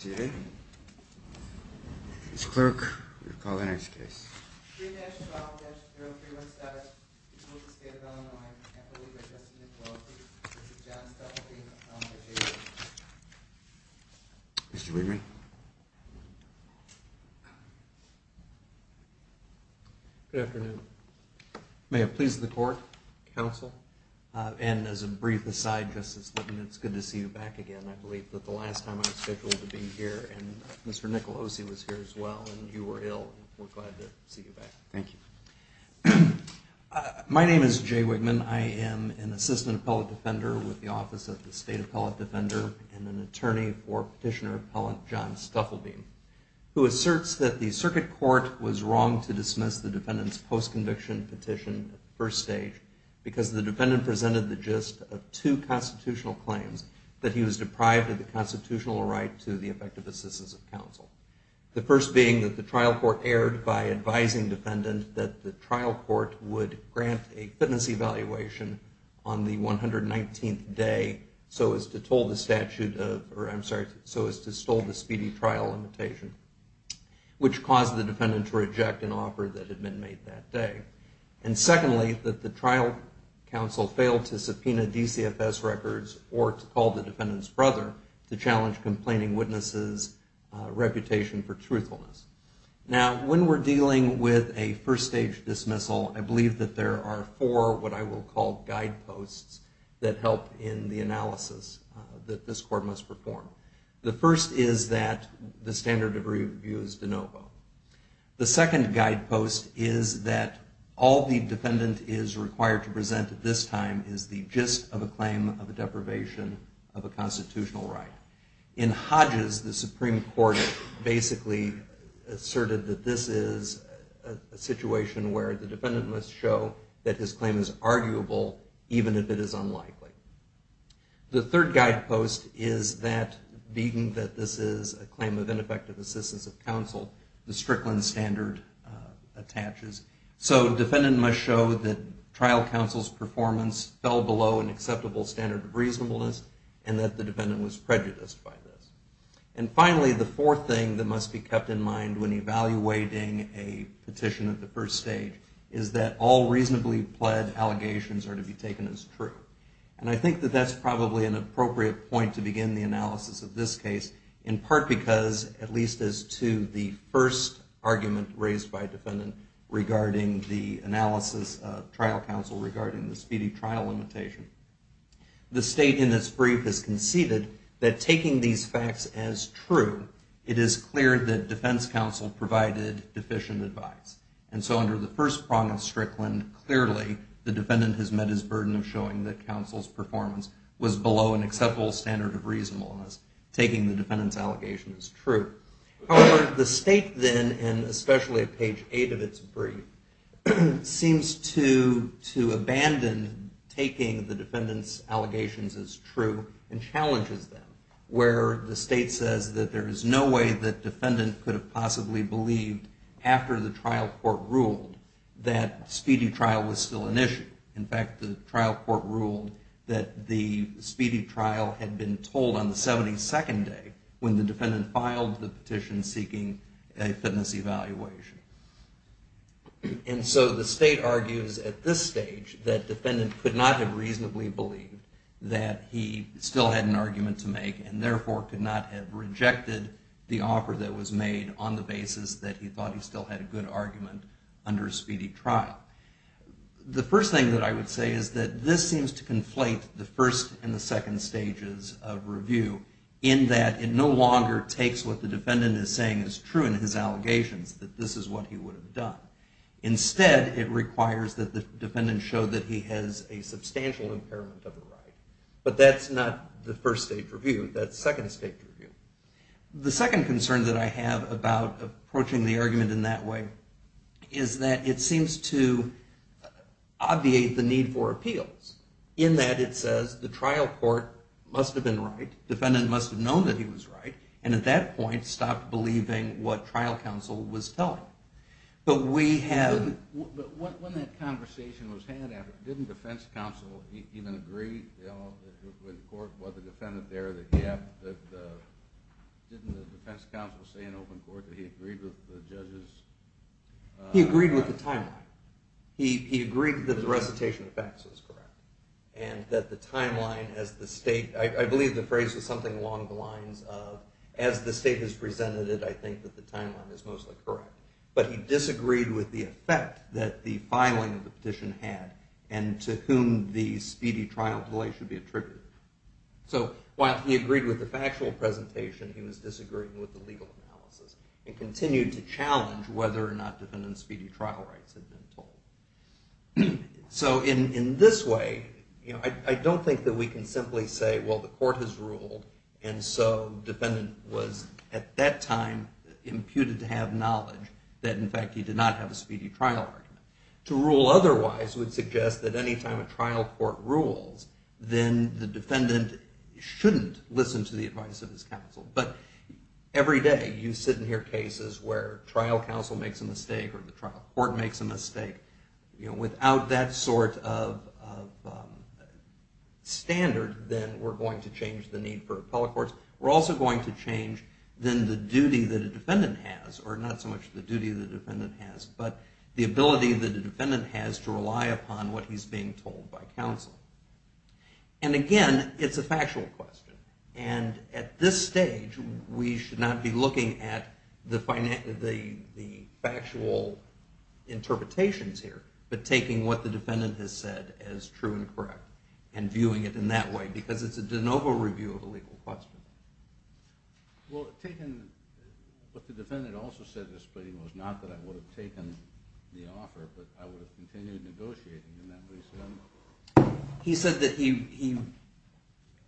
Mr. Weidman. Good afternoon. May it please the court, counsel, and as a brief aside, it's good to see you back again. I believe that the last time I was scheduled to be here, and Mr. Nicolosi was here as well, and you were ill. We're glad to see you back. Thank you. My name is Jay Weidman. I am an assistant appellate defender with the Office of the State Appellate Defender and an attorney for petitioner appellant John Stufflebeam, who asserts that the circuit court was wrong to dismiss the defendant's post-conviction petition at the first stage because the defendant presented the gist of two constitutional claims, that he was deprived of the constitutional right to the effective assistance of counsel. The first being that the trial court erred by advising defendant that the trial court would grant a fitness evaluation on the 119th day so as to toll the statute of, or I'm sorry, so as to stall the speedy trial limitation, which caused the defendant to reject an offer that had been made that day. And secondly, that the trial counsel failed to subpoena DCFS records or to call the defendant's brother to challenge complaining witnesses' reputation for truthfulness. Now, when we're dealing with a first stage dismissal, I believe that there are four what I will call guideposts that help in the analysis that this court must perform. The first is that the standard of review is de novo. The second guidepost is that all the defendant is required to present at this time is the gist of a claim of a deprivation of a constitutional right. In Hodges, the Supreme Court basically asserted that this is a situation where the defendant must show that his claim is arguable even if it is unlikely. The third guidepost is that being that this is a claim of ineffective assistance of counsel, the Strickland standard attaches. So defendant must show that trial counsel's performance fell below an acceptable standard of reasonableness and that the defendant was prejudiced by this. And finally, the fourth thing that must be kept in mind when evaluating a petition at the first stage is that all reasonably pled allegations are to be taken as true. And I think that that's probably an appropriate point to begin the analysis of this case, in part because, at least as to the first argument raised by a defendant regarding the analysis of trial counsel regarding the speedy trial limitation. The state in its brief has conceded that taking these facts as true, it is clear that defense counsel provided deficient advice. And so under the first prong of Strickland, clearly the defendant has met his burden of showing that counsel's performance was below an acceptable standard of reasonableness. Taking the defendant's allegations as true. However, the state then, and especially at page eight of its brief, seems to abandon taking the defendant's allegations as true and challenges them. Where the state says that there is no way that defendant could have possibly believed after the trial court ruled that speedy trial was still an issue. In fact, the trial court ruled that the speedy trial had been told on the 72nd day when the defendant filed the petition seeking a fitness evaluation. And so the state argues at this stage that defendant could not have reasonably believed that he still had an argument to make and therefore could not have rejected the offer that was made on the basis that he thought he still had a good argument under a speedy trial. The first thing that I would say is that this seems to conflate the first and the second stages of review in that it no longer takes what the defendant is saying is true in his allegations that this is what he would have done. Instead, it requires that the defendant show that he has a substantial impairment of a right. But that's not the first stage review. That's second stage review. The second concern that I have about approaching the argument in that way is that it seems to obviate the need for appeals. In that it says the trial court must have been right, defendant must have known that he was right, and at that point stopped believing what trial counsel was telling. But when that conversation was had, didn't defense counsel even agree when the court brought the defendant there, didn't the defense counsel say in open court that he agreed with the judge's... He agreed with the timeline. He agreed that the recitation of facts was correct. I believe the phrase was something along the lines of, as the state has presented it, I think that the timeline is mostly correct. But he disagreed with the effect that the filing of the petition had and to whom the speedy trial delay should be attributed. So while he agreed with the factual presentation, he was disagreeing with the legal analysis and continued to challenge whether or not defendant's speedy trial rights had been told. So in this way, I don't think that we can simply say, well, the court has ruled and so defendant was at that time imputed to have knowledge that in fact he did not have a speedy trial argument. To rule otherwise would suggest that any time a trial court rules, then the defendant shouldn't listen to the advice of his counsel. But every day you sit and hear cases where trial counsel makes a mistake or the trial court makes a mistake. Without that sort of standard, then we're going to change the need for appellate courts. We're also going to change then the duty that a defendant has, or not so much the duty that a defendant has, but the ability that a defendant has to rely upon what he's being told by counsel. And again, it's a factual question. And at this stage, we should not be looking at the factual interpretations here, but taking what the defendant has said as true and correct and viewing it in that way. Because it's a de novo review of a legal question. Well, what the defendant also said in this plea was not that I would have taken the offer, but I would have continued negotiating in that way. He said that he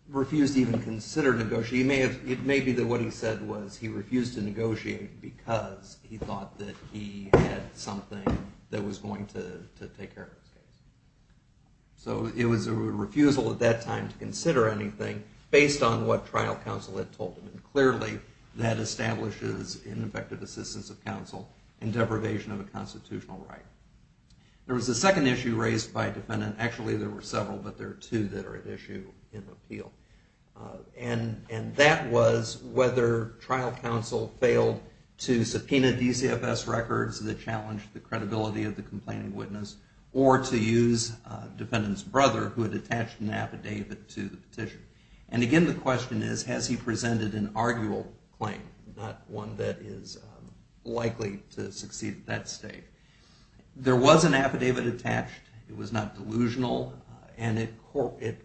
refused to even consider negotiating. It may be that what he said was he refused to negotiate because he thought that he had something that was going to take care of his case. So it was a refusal at that time to consider anything based on what trial counsel had told him. And clearly, that establishes ineffective assistance of counsel and deprivation of a constitutional right. There was a second issue raised by a defendant. Actually, there were several, but there are two that are at issue in the appeal. And that was whether trial counsel failed to subpoena DCFS records that challenged the credibility of the complaining witness, or to use a defendant's brother who had attached an affidavit to the petition. And again, the question is, has he presented an arguable claim, not one that is likely to succeed at that stage. There was an affidavit attached. It was not delusional. And it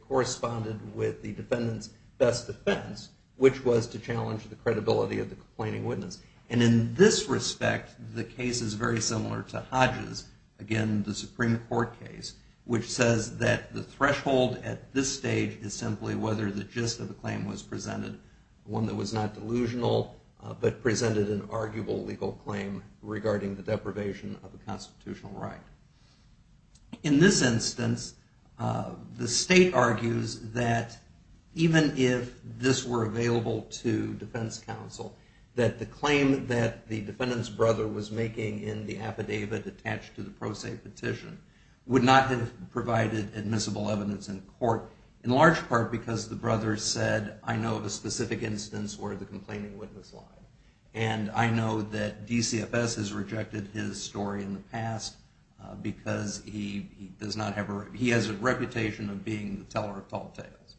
corresponded with the defendant's best defense, which was to challenge the credibility of the complaining witness. And in this respect, the case is very similar to Hodges, again, the Supreme Court case, which says that the threshold at this stage is simply whether the gist of the claim was presented, one that was not delusional but presented an arguable legal claim regarding the deprivation of a constitutional right. In this instance, the state argues that even if this were available to defense counsel, that the claim that the defendant's brother was making in the affidavit attached to the pro se petition would not have provided admissible evidence in court, in large part because the brother said, I know of a specific instance where the complaining witness lied. And I know that DCFS has rejected his story in the past because he has a reputation of being the teller of tall tales.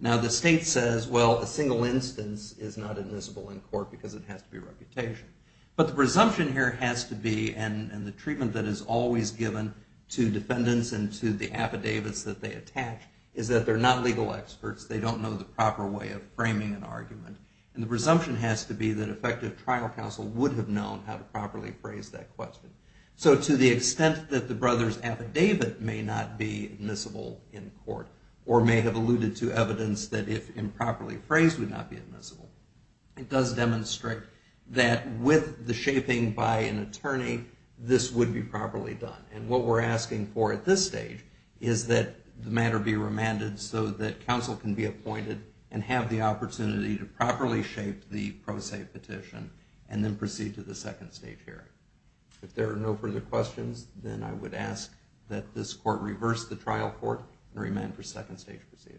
Now, the state says, well, a single instance is not admissible in court because it has to be a reputation. But the presumption here has to be, and the treatment that is always given to defendants and to the affidavits that they attach, is that they're not legal experts. They don't know the proper way of framing an argument. And the presumption has to be that effective trial counsel would have known how to properly phrase that question. So to the extent that the brother's affidavit may not be admissible in court, or may have alluded to evidence that if improperly phrased would not be admissible, it does demonstrate that with the shaping by an attorney, this would be properly done. And what we're asking for at this stage is that the matter be remanded so that counsel can be appointed and have the opportunity to properly shape the pro se petition and then proceed to the second stage hearing. If there are no further questions, then I would ask that this court reverse the trial court and remand for second stage proceeding.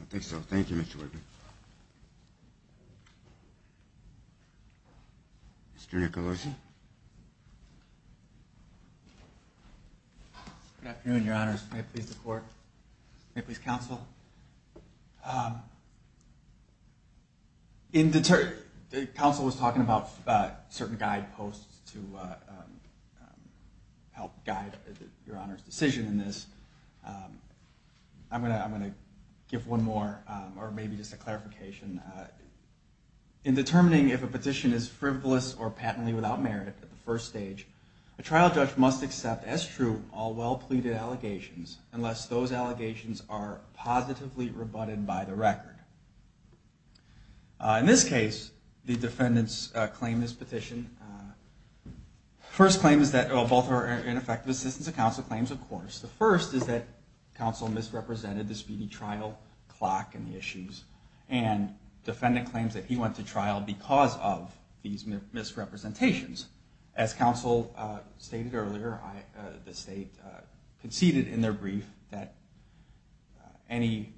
I think so. Thank you, Mr. Whitman. Mr. Nicolosi. Good afternoon, Your Honors. May it please the court. May it please counsel. Counsel was talking about certain guideposts to help guide Your Honor's decision in this. I'm going to give one more, or maybe just a clarification. In determining if a petition is frivolous or patently without merit at the first stage, a trial judge must accept as true all well-pleaded allegations unless those allegations are positively rebutted by the record. In this case, the defendants claim this petition. First claim is that both are ineffective assistance of counsel claims, of course. The first is that counsel misrepresented the speedy trial clock and the issues, and defendant claims that he went to trial because of these misrepresentations. As counsel stated earlier, the state conceded in their brief that any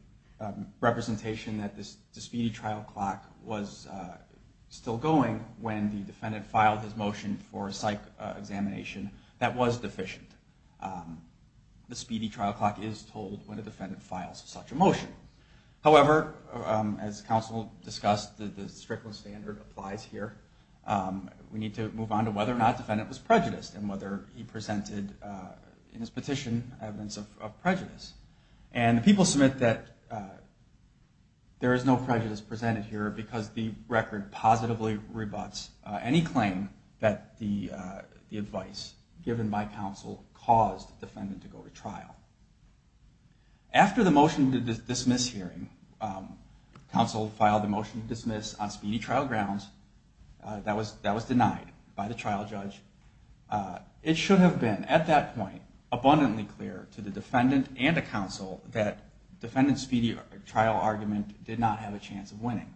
representation that the speedy trial clock was still going when the defendant filed his motion for a psych examination that was deficient. The speedy trial clock is told when a defendant files such a motion. However, as counsel discussed, the Strickland standard applies here. We need to move on to whether or not the defendant was prejudiced and whether he presented in his petition evidence of prejudice. And the people submit that there is no prejudice presented here because the record positively rebuts any claim that the advice given by counsel caused the defendant to go to trial. After the motion to dismiss hearing, counsel filed a motion to dismiss on speedy trial grounds. That was denied by the trial judge. It should have been at that point abundantly clear to the defendant and the counsel that defendant's speedy trial argument did not have a chance of winning.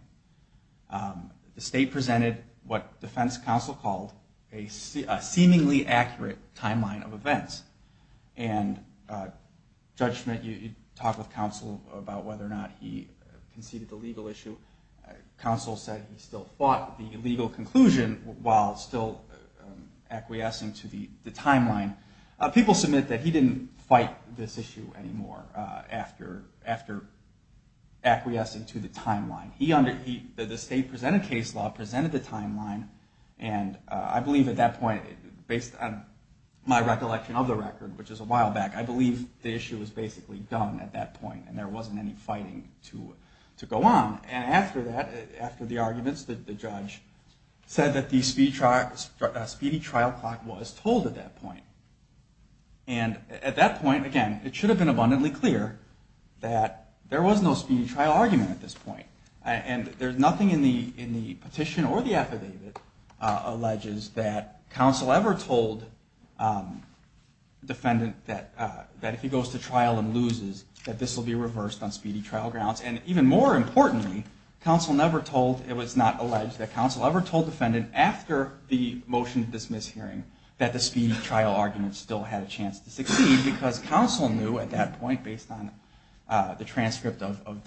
The state presented what defense counsel called a seemingly accurate timeline of events. And Judge Schmidt, you talked with counsel about whether or not he conceded the legal issue. Counsel said he still fought the legal conclusion while still acquiescing to the timeline. People submit that he didn't fight this issue anymore after acquiescing to the timeline. The state presented case law, presented the timeline, and I believe at that point, based on my recollection of the record, which is a while back, I believe the issue was basically done at that point and there wasn't any fighting to go on. And after that, after the arguments, the judge said that the speedy trial clock was told at that point. And at that point, again, it should have been abundantly clear that there was no speedy trial argument at this point. And there's nothing in the petition or the affidavit alleges that counsel ever told defendant that if he goes to trial and loses, that this will be reversed on speedy trial grounds. And even more importantly, counsel never told, it was not alleged, that counsel ever told defendant after the motion to dismiss hearing that the speedy trial argument still had a chance to succeed because counsel knew at that point, based on the transcript of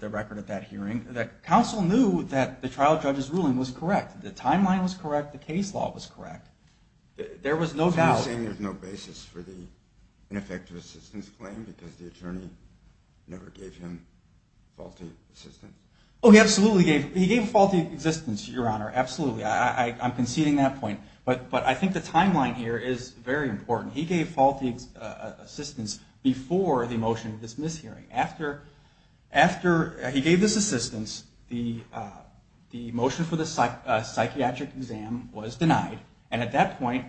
the record at that hearing, counsel knew that the trial judge's ruling was correct. The timeline was correct. The case law was correct. There was no doubt. Oh, he absolutely gave, he gave faulty existence, Your Honor. Absolutely. I'm conceding that point. But I think the timeline here is very important. He gave faulty assistance before the motion to dismiss hearing. After he gave this assistance, the motion for the psychiatric exam was denied. And at that point,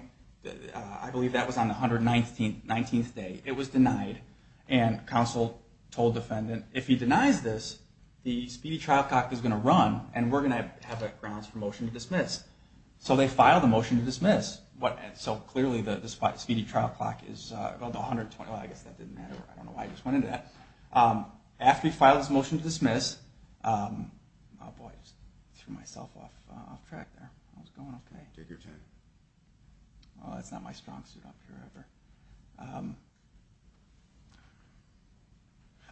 I believe that was on the 119th day, it was denied. And counsel told defendant, if he denies this, the speedy trial clock is going to run and we're going to have grounds for motion to dismiss. So clearly the speedy trial clock is, well, the 120, I guess that didn't matter. I don't know why I just went into that. After he filed his motion to dismiss, oh boy, I just threw myself off track there. How's it going? Oh, that's not my strong suit up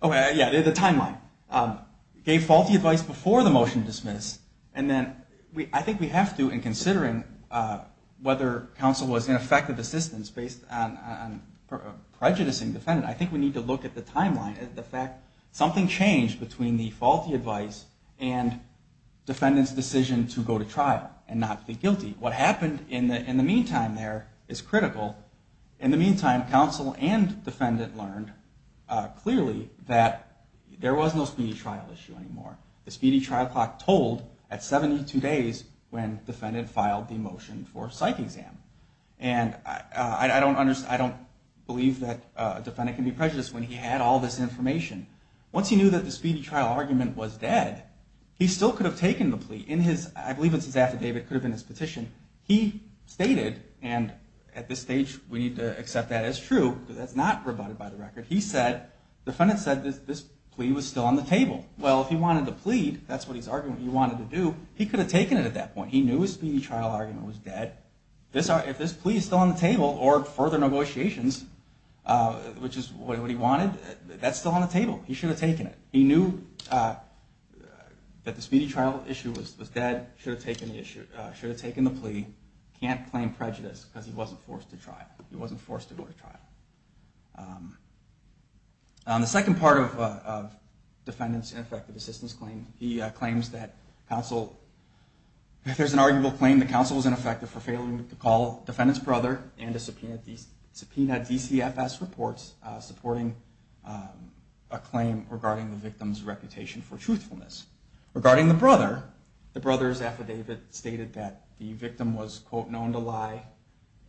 here. Yeah, the timeline. Gave faulty advice before the motion to dismiss. And then I think we have to, in considering whether counsel was in effect of assistance based on prejudicing the defendant, I think we need to look at the timeline and the fact something changed between the faulty advice and defendant's decision to go to trial and not be guilty. What happened in the meantime there is critical. In the meantime, counsel and defendant learned clearly that there was no speedy trial issue anymore. The speedy trial clock told at 72 days when defendant filed the motion for psych exam. And I don't believe that a defendant can be prejudiced when he had all this information. Once he knew that the speedy trial argument was dead, he still could have taken the plea. I believe it's his affidavit, could have been his petition. He stated, and at this stage we need to accept that as true, because that's not rebutted by the record. He said, defendant said this plea was still on the table. Well, if he wanted the plea, that's what he's arguing he wanted to do, he could have taken it at that point. He knew his speedy trial argument was dead. If this plea is still on the table or further negotiations, which is what he wanted, that's still on the table. He should have taken it. He knew that the speedy trial issue was dead, should have taken the plea. Can't claim prejudice because he wasn't forced to go to trial. The second part of defendant's ineffective assistance claim, he claims that counsel, there's an arguable claim that counsel was ineffective for failing to call defendant's brother and to subpoena DCFS reports supporting a claim regarding the victim's reputation for truthfulness. Regarding the brother, the brother's affidavit stated that the victim was, quote, known to lie,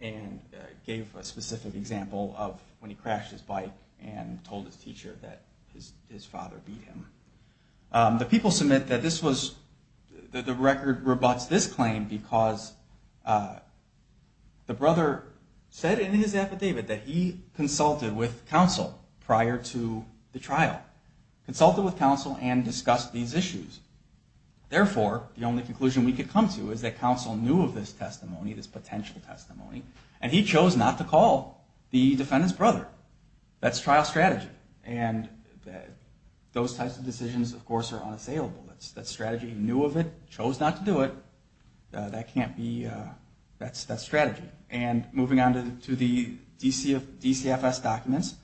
and gave a specific example of when he crashed his bike and told his teacher that his father beat him. The people submit that this was, that the record rebuts this claim because the brother said in his affidavit that he consulted with counsel prior to the trial, consulted with counsel and discussed these issues. Therefore, the only conclusion we could come to is that counsel knew of this testimony, this potential testimony, and he chose not to call the defendant's brother. That's trial strategy. And those types of decisions, of course, are unassailable. That's strategy. He knew of it, chose not to do it. That can't be, that's strategy. And moving on to the DCFS documents,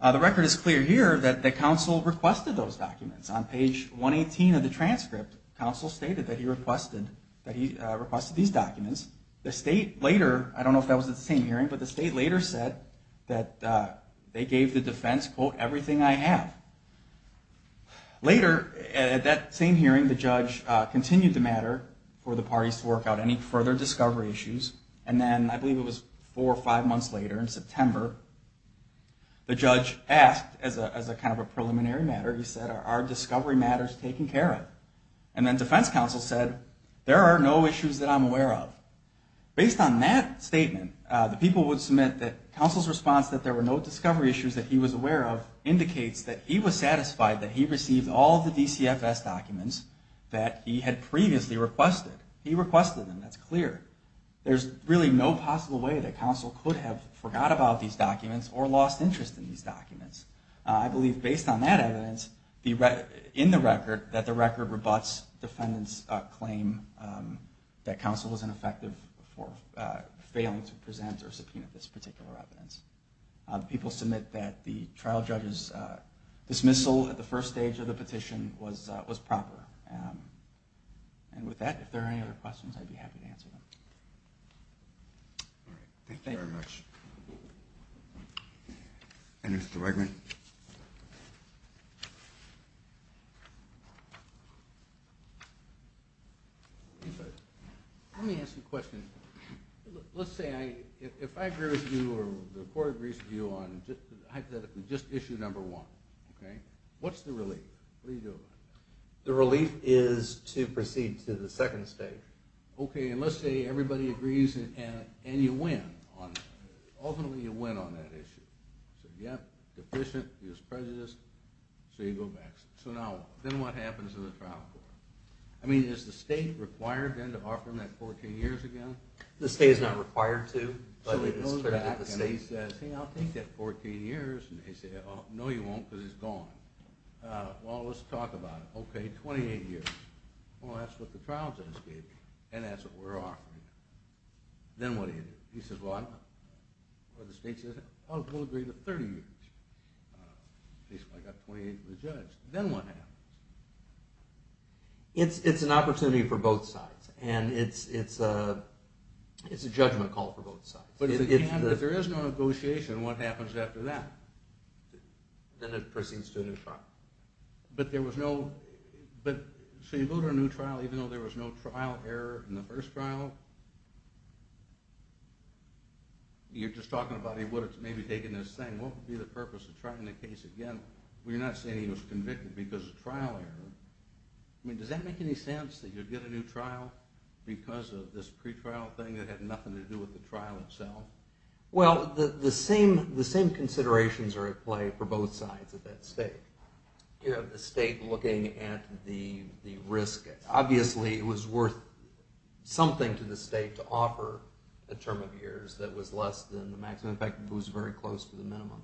the record is clear here that counsel requested those documents. On page 118 of the transcript, counsel stated that he requested these documents. The state later, I don't know if that was at the same hearing, but the state later said that they gave the defense, quote, everything I have. Later, at that same hearing, the judge continued the matter for the parties to work out any further discovery issues. And then, I believe it was four or five months later in September, the judge asked, as a kind of a preliminary matter, he said, are discovery matters taken care of? And then defense counsel said, there are no issues that I'm aware of. Based on that statement, the people would submit that counsel's response that there were no discovery issues that he was aware of that's clear. There's really no possible way that counsel could have forgot about these documents or lost interest in these documents. I believe based on that evidence in the record that the record rebuts defendant's claim that counsel was ineffective for failing to present or subpoena this particular evidence. People submit that the trial judge's dismissal at the first stage of the petition was proper. And with that, if there are any other questions, I'd be happy to answer them. All right. Thank you very much. Mr. Wegman? Let me ask you a question. Let's say, if I agree with you or the court agrees with you on, hypothetically, just issue number one. What's the relief? The relief is to proceed to the second stage. Okay. And let's say everybody agrees and you win. Ultimately, you win on that issue. So now, then what happens to the trial court? I mean, is the state required then to offer them that 14 years again? The state is not required to. He says, I'll take that 14 years. And they say, oh, no you won't because it's gone. Well, let's talk about it. Okay, 28 years. Well, that's what the trial judge gave you. And that's what we're offering. Then what do you do? He says, well, I don't know. Well, the state says, oh, we'll agree to 30 years. At least if I got 28 from the judge. Then what happens? It's an opportunity for both sides. And it's a judgment call for both sides. But if there is no negotiation, what happens after that? Then it proceeds to a new trial. So you go to a new trial, even though there was no trial error in the first trial. You're just talking about he would have maybe taken this thing. What would be the purpose of trying the case again? You're not saying he was convicted because of trial error. I mean, does that make any sense that you'd get a new trial because of this pre-trial thing that had nothing to do with the trial itself? Well, the same considerations are at play for both sides of that state. You have the state looking at the risk. Obviously, it was worth something to the state to offer a term of years that was less than the maximum. In fact, it was very close to the minimum.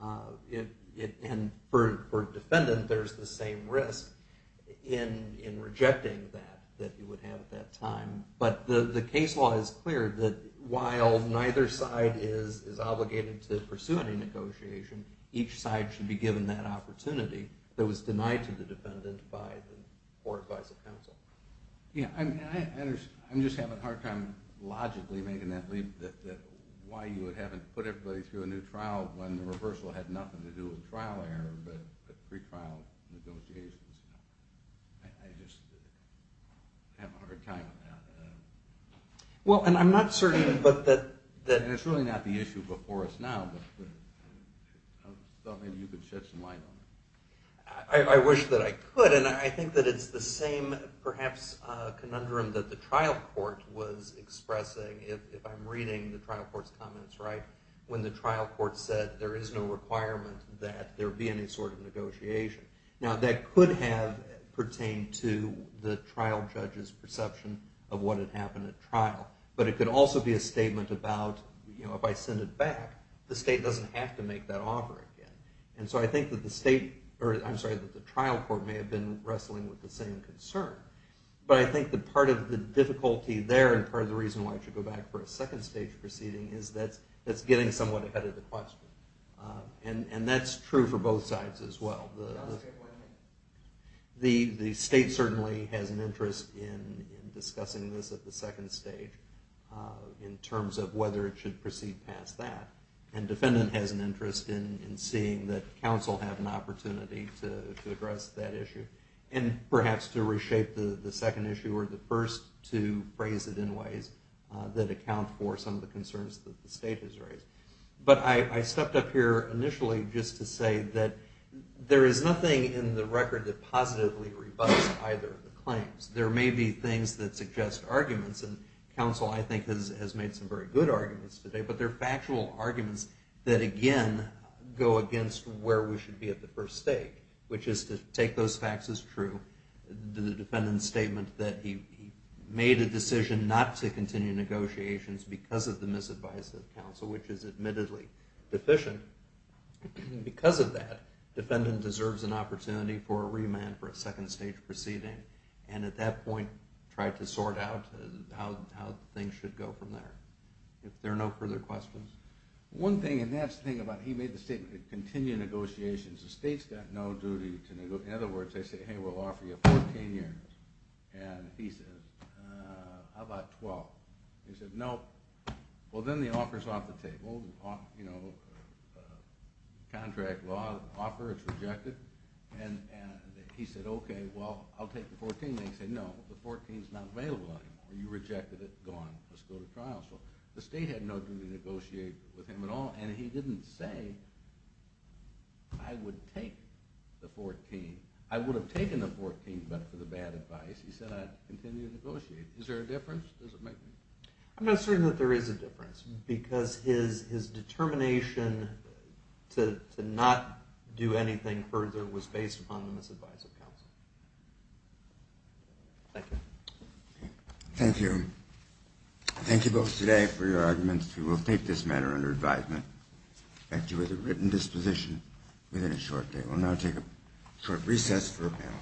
And for a defendant, there's the same risk in rejecting that that he would have at that time. But the case law is clear that while neither side is obligated to pursue any negotiation, each side should be given that opportunity that was denied to the defendant by the Court Advisory Council. I'm just having a hard time logically making that leap that why you would have to put everybody through a new trial when the reversal had nothing to do with trial error but pre-trial negotiations. I just have a hard time with that. And it's really not the issue before us now, but I thought maybe you could shed some light on it. I wish that I could, and I think that it's the same, perhaps, conundrum that the trial court was expressing. If I'm reading the trial court's comments right, when the trial court said there is no requirement that there be any sort of negotiation. Now, that could have pertained to the trial judge's perception of what had happened at trial. But it could also be a statement about if I send it back, the state doesn't have to make that offer again. And so I think that the trial court may have been wrestling with the same concern. But I think that part of the reason why it should go back for a second stage proceeding is that it's getting somewhat ahead of the question. And that's true for both sides as well. The state certainly has an interest in discussing this at the second stage in terms of whether it should proceed past that. And defendant has an interest in seeing that counsel have an opportunity to address that issue. And perhaps to reshape the second issue or the first to phrase it in ways that account for some of the concerns that the state has raised. But I stepped up here initially just to say that there is nothing in the record that positively rebuts either of the claims. There may be things that suggest arguments and counsel I think has made some very good arguments today. But they're factual arguments that again go against where we should be at the first stage. Which is to take those facts as true. The defendant made a decision not to continue negotiations because of the misadvice of counsel, which is admittedly deficient. Because of that, defendant deserves an opportunity for a remand for a second stage proceeding. And at that point try to sort out how things should go from there. If there are no further questions. One thing, and that's the thing about he made the statement to continue negotiations. The state's got no duty to negotiate. In other words, they say hey we'll offer you 14 years. And he says, how about 12? They said no. Well then the offer's off the table. Contract law offer, it's rejected. And he said okay, well I'll take the 14. They said no. The 14's not available anymore. You rejected it. Gone. Let's go to trial. The state had no duty to negotiate with him at all. And he didn't say I would take the 14. I would have taken the 14 but for the bad advice. He said I'd continue to negotiate. Is there a difference? I'm not certain that there is a difference. Because his determination to not do anything further was based upon the misadvice of counsel. Thank you. Thank you. Thank you both today for your arguments. We will take this matter under advisement. Back to you with a written disposition within a recess for a panel.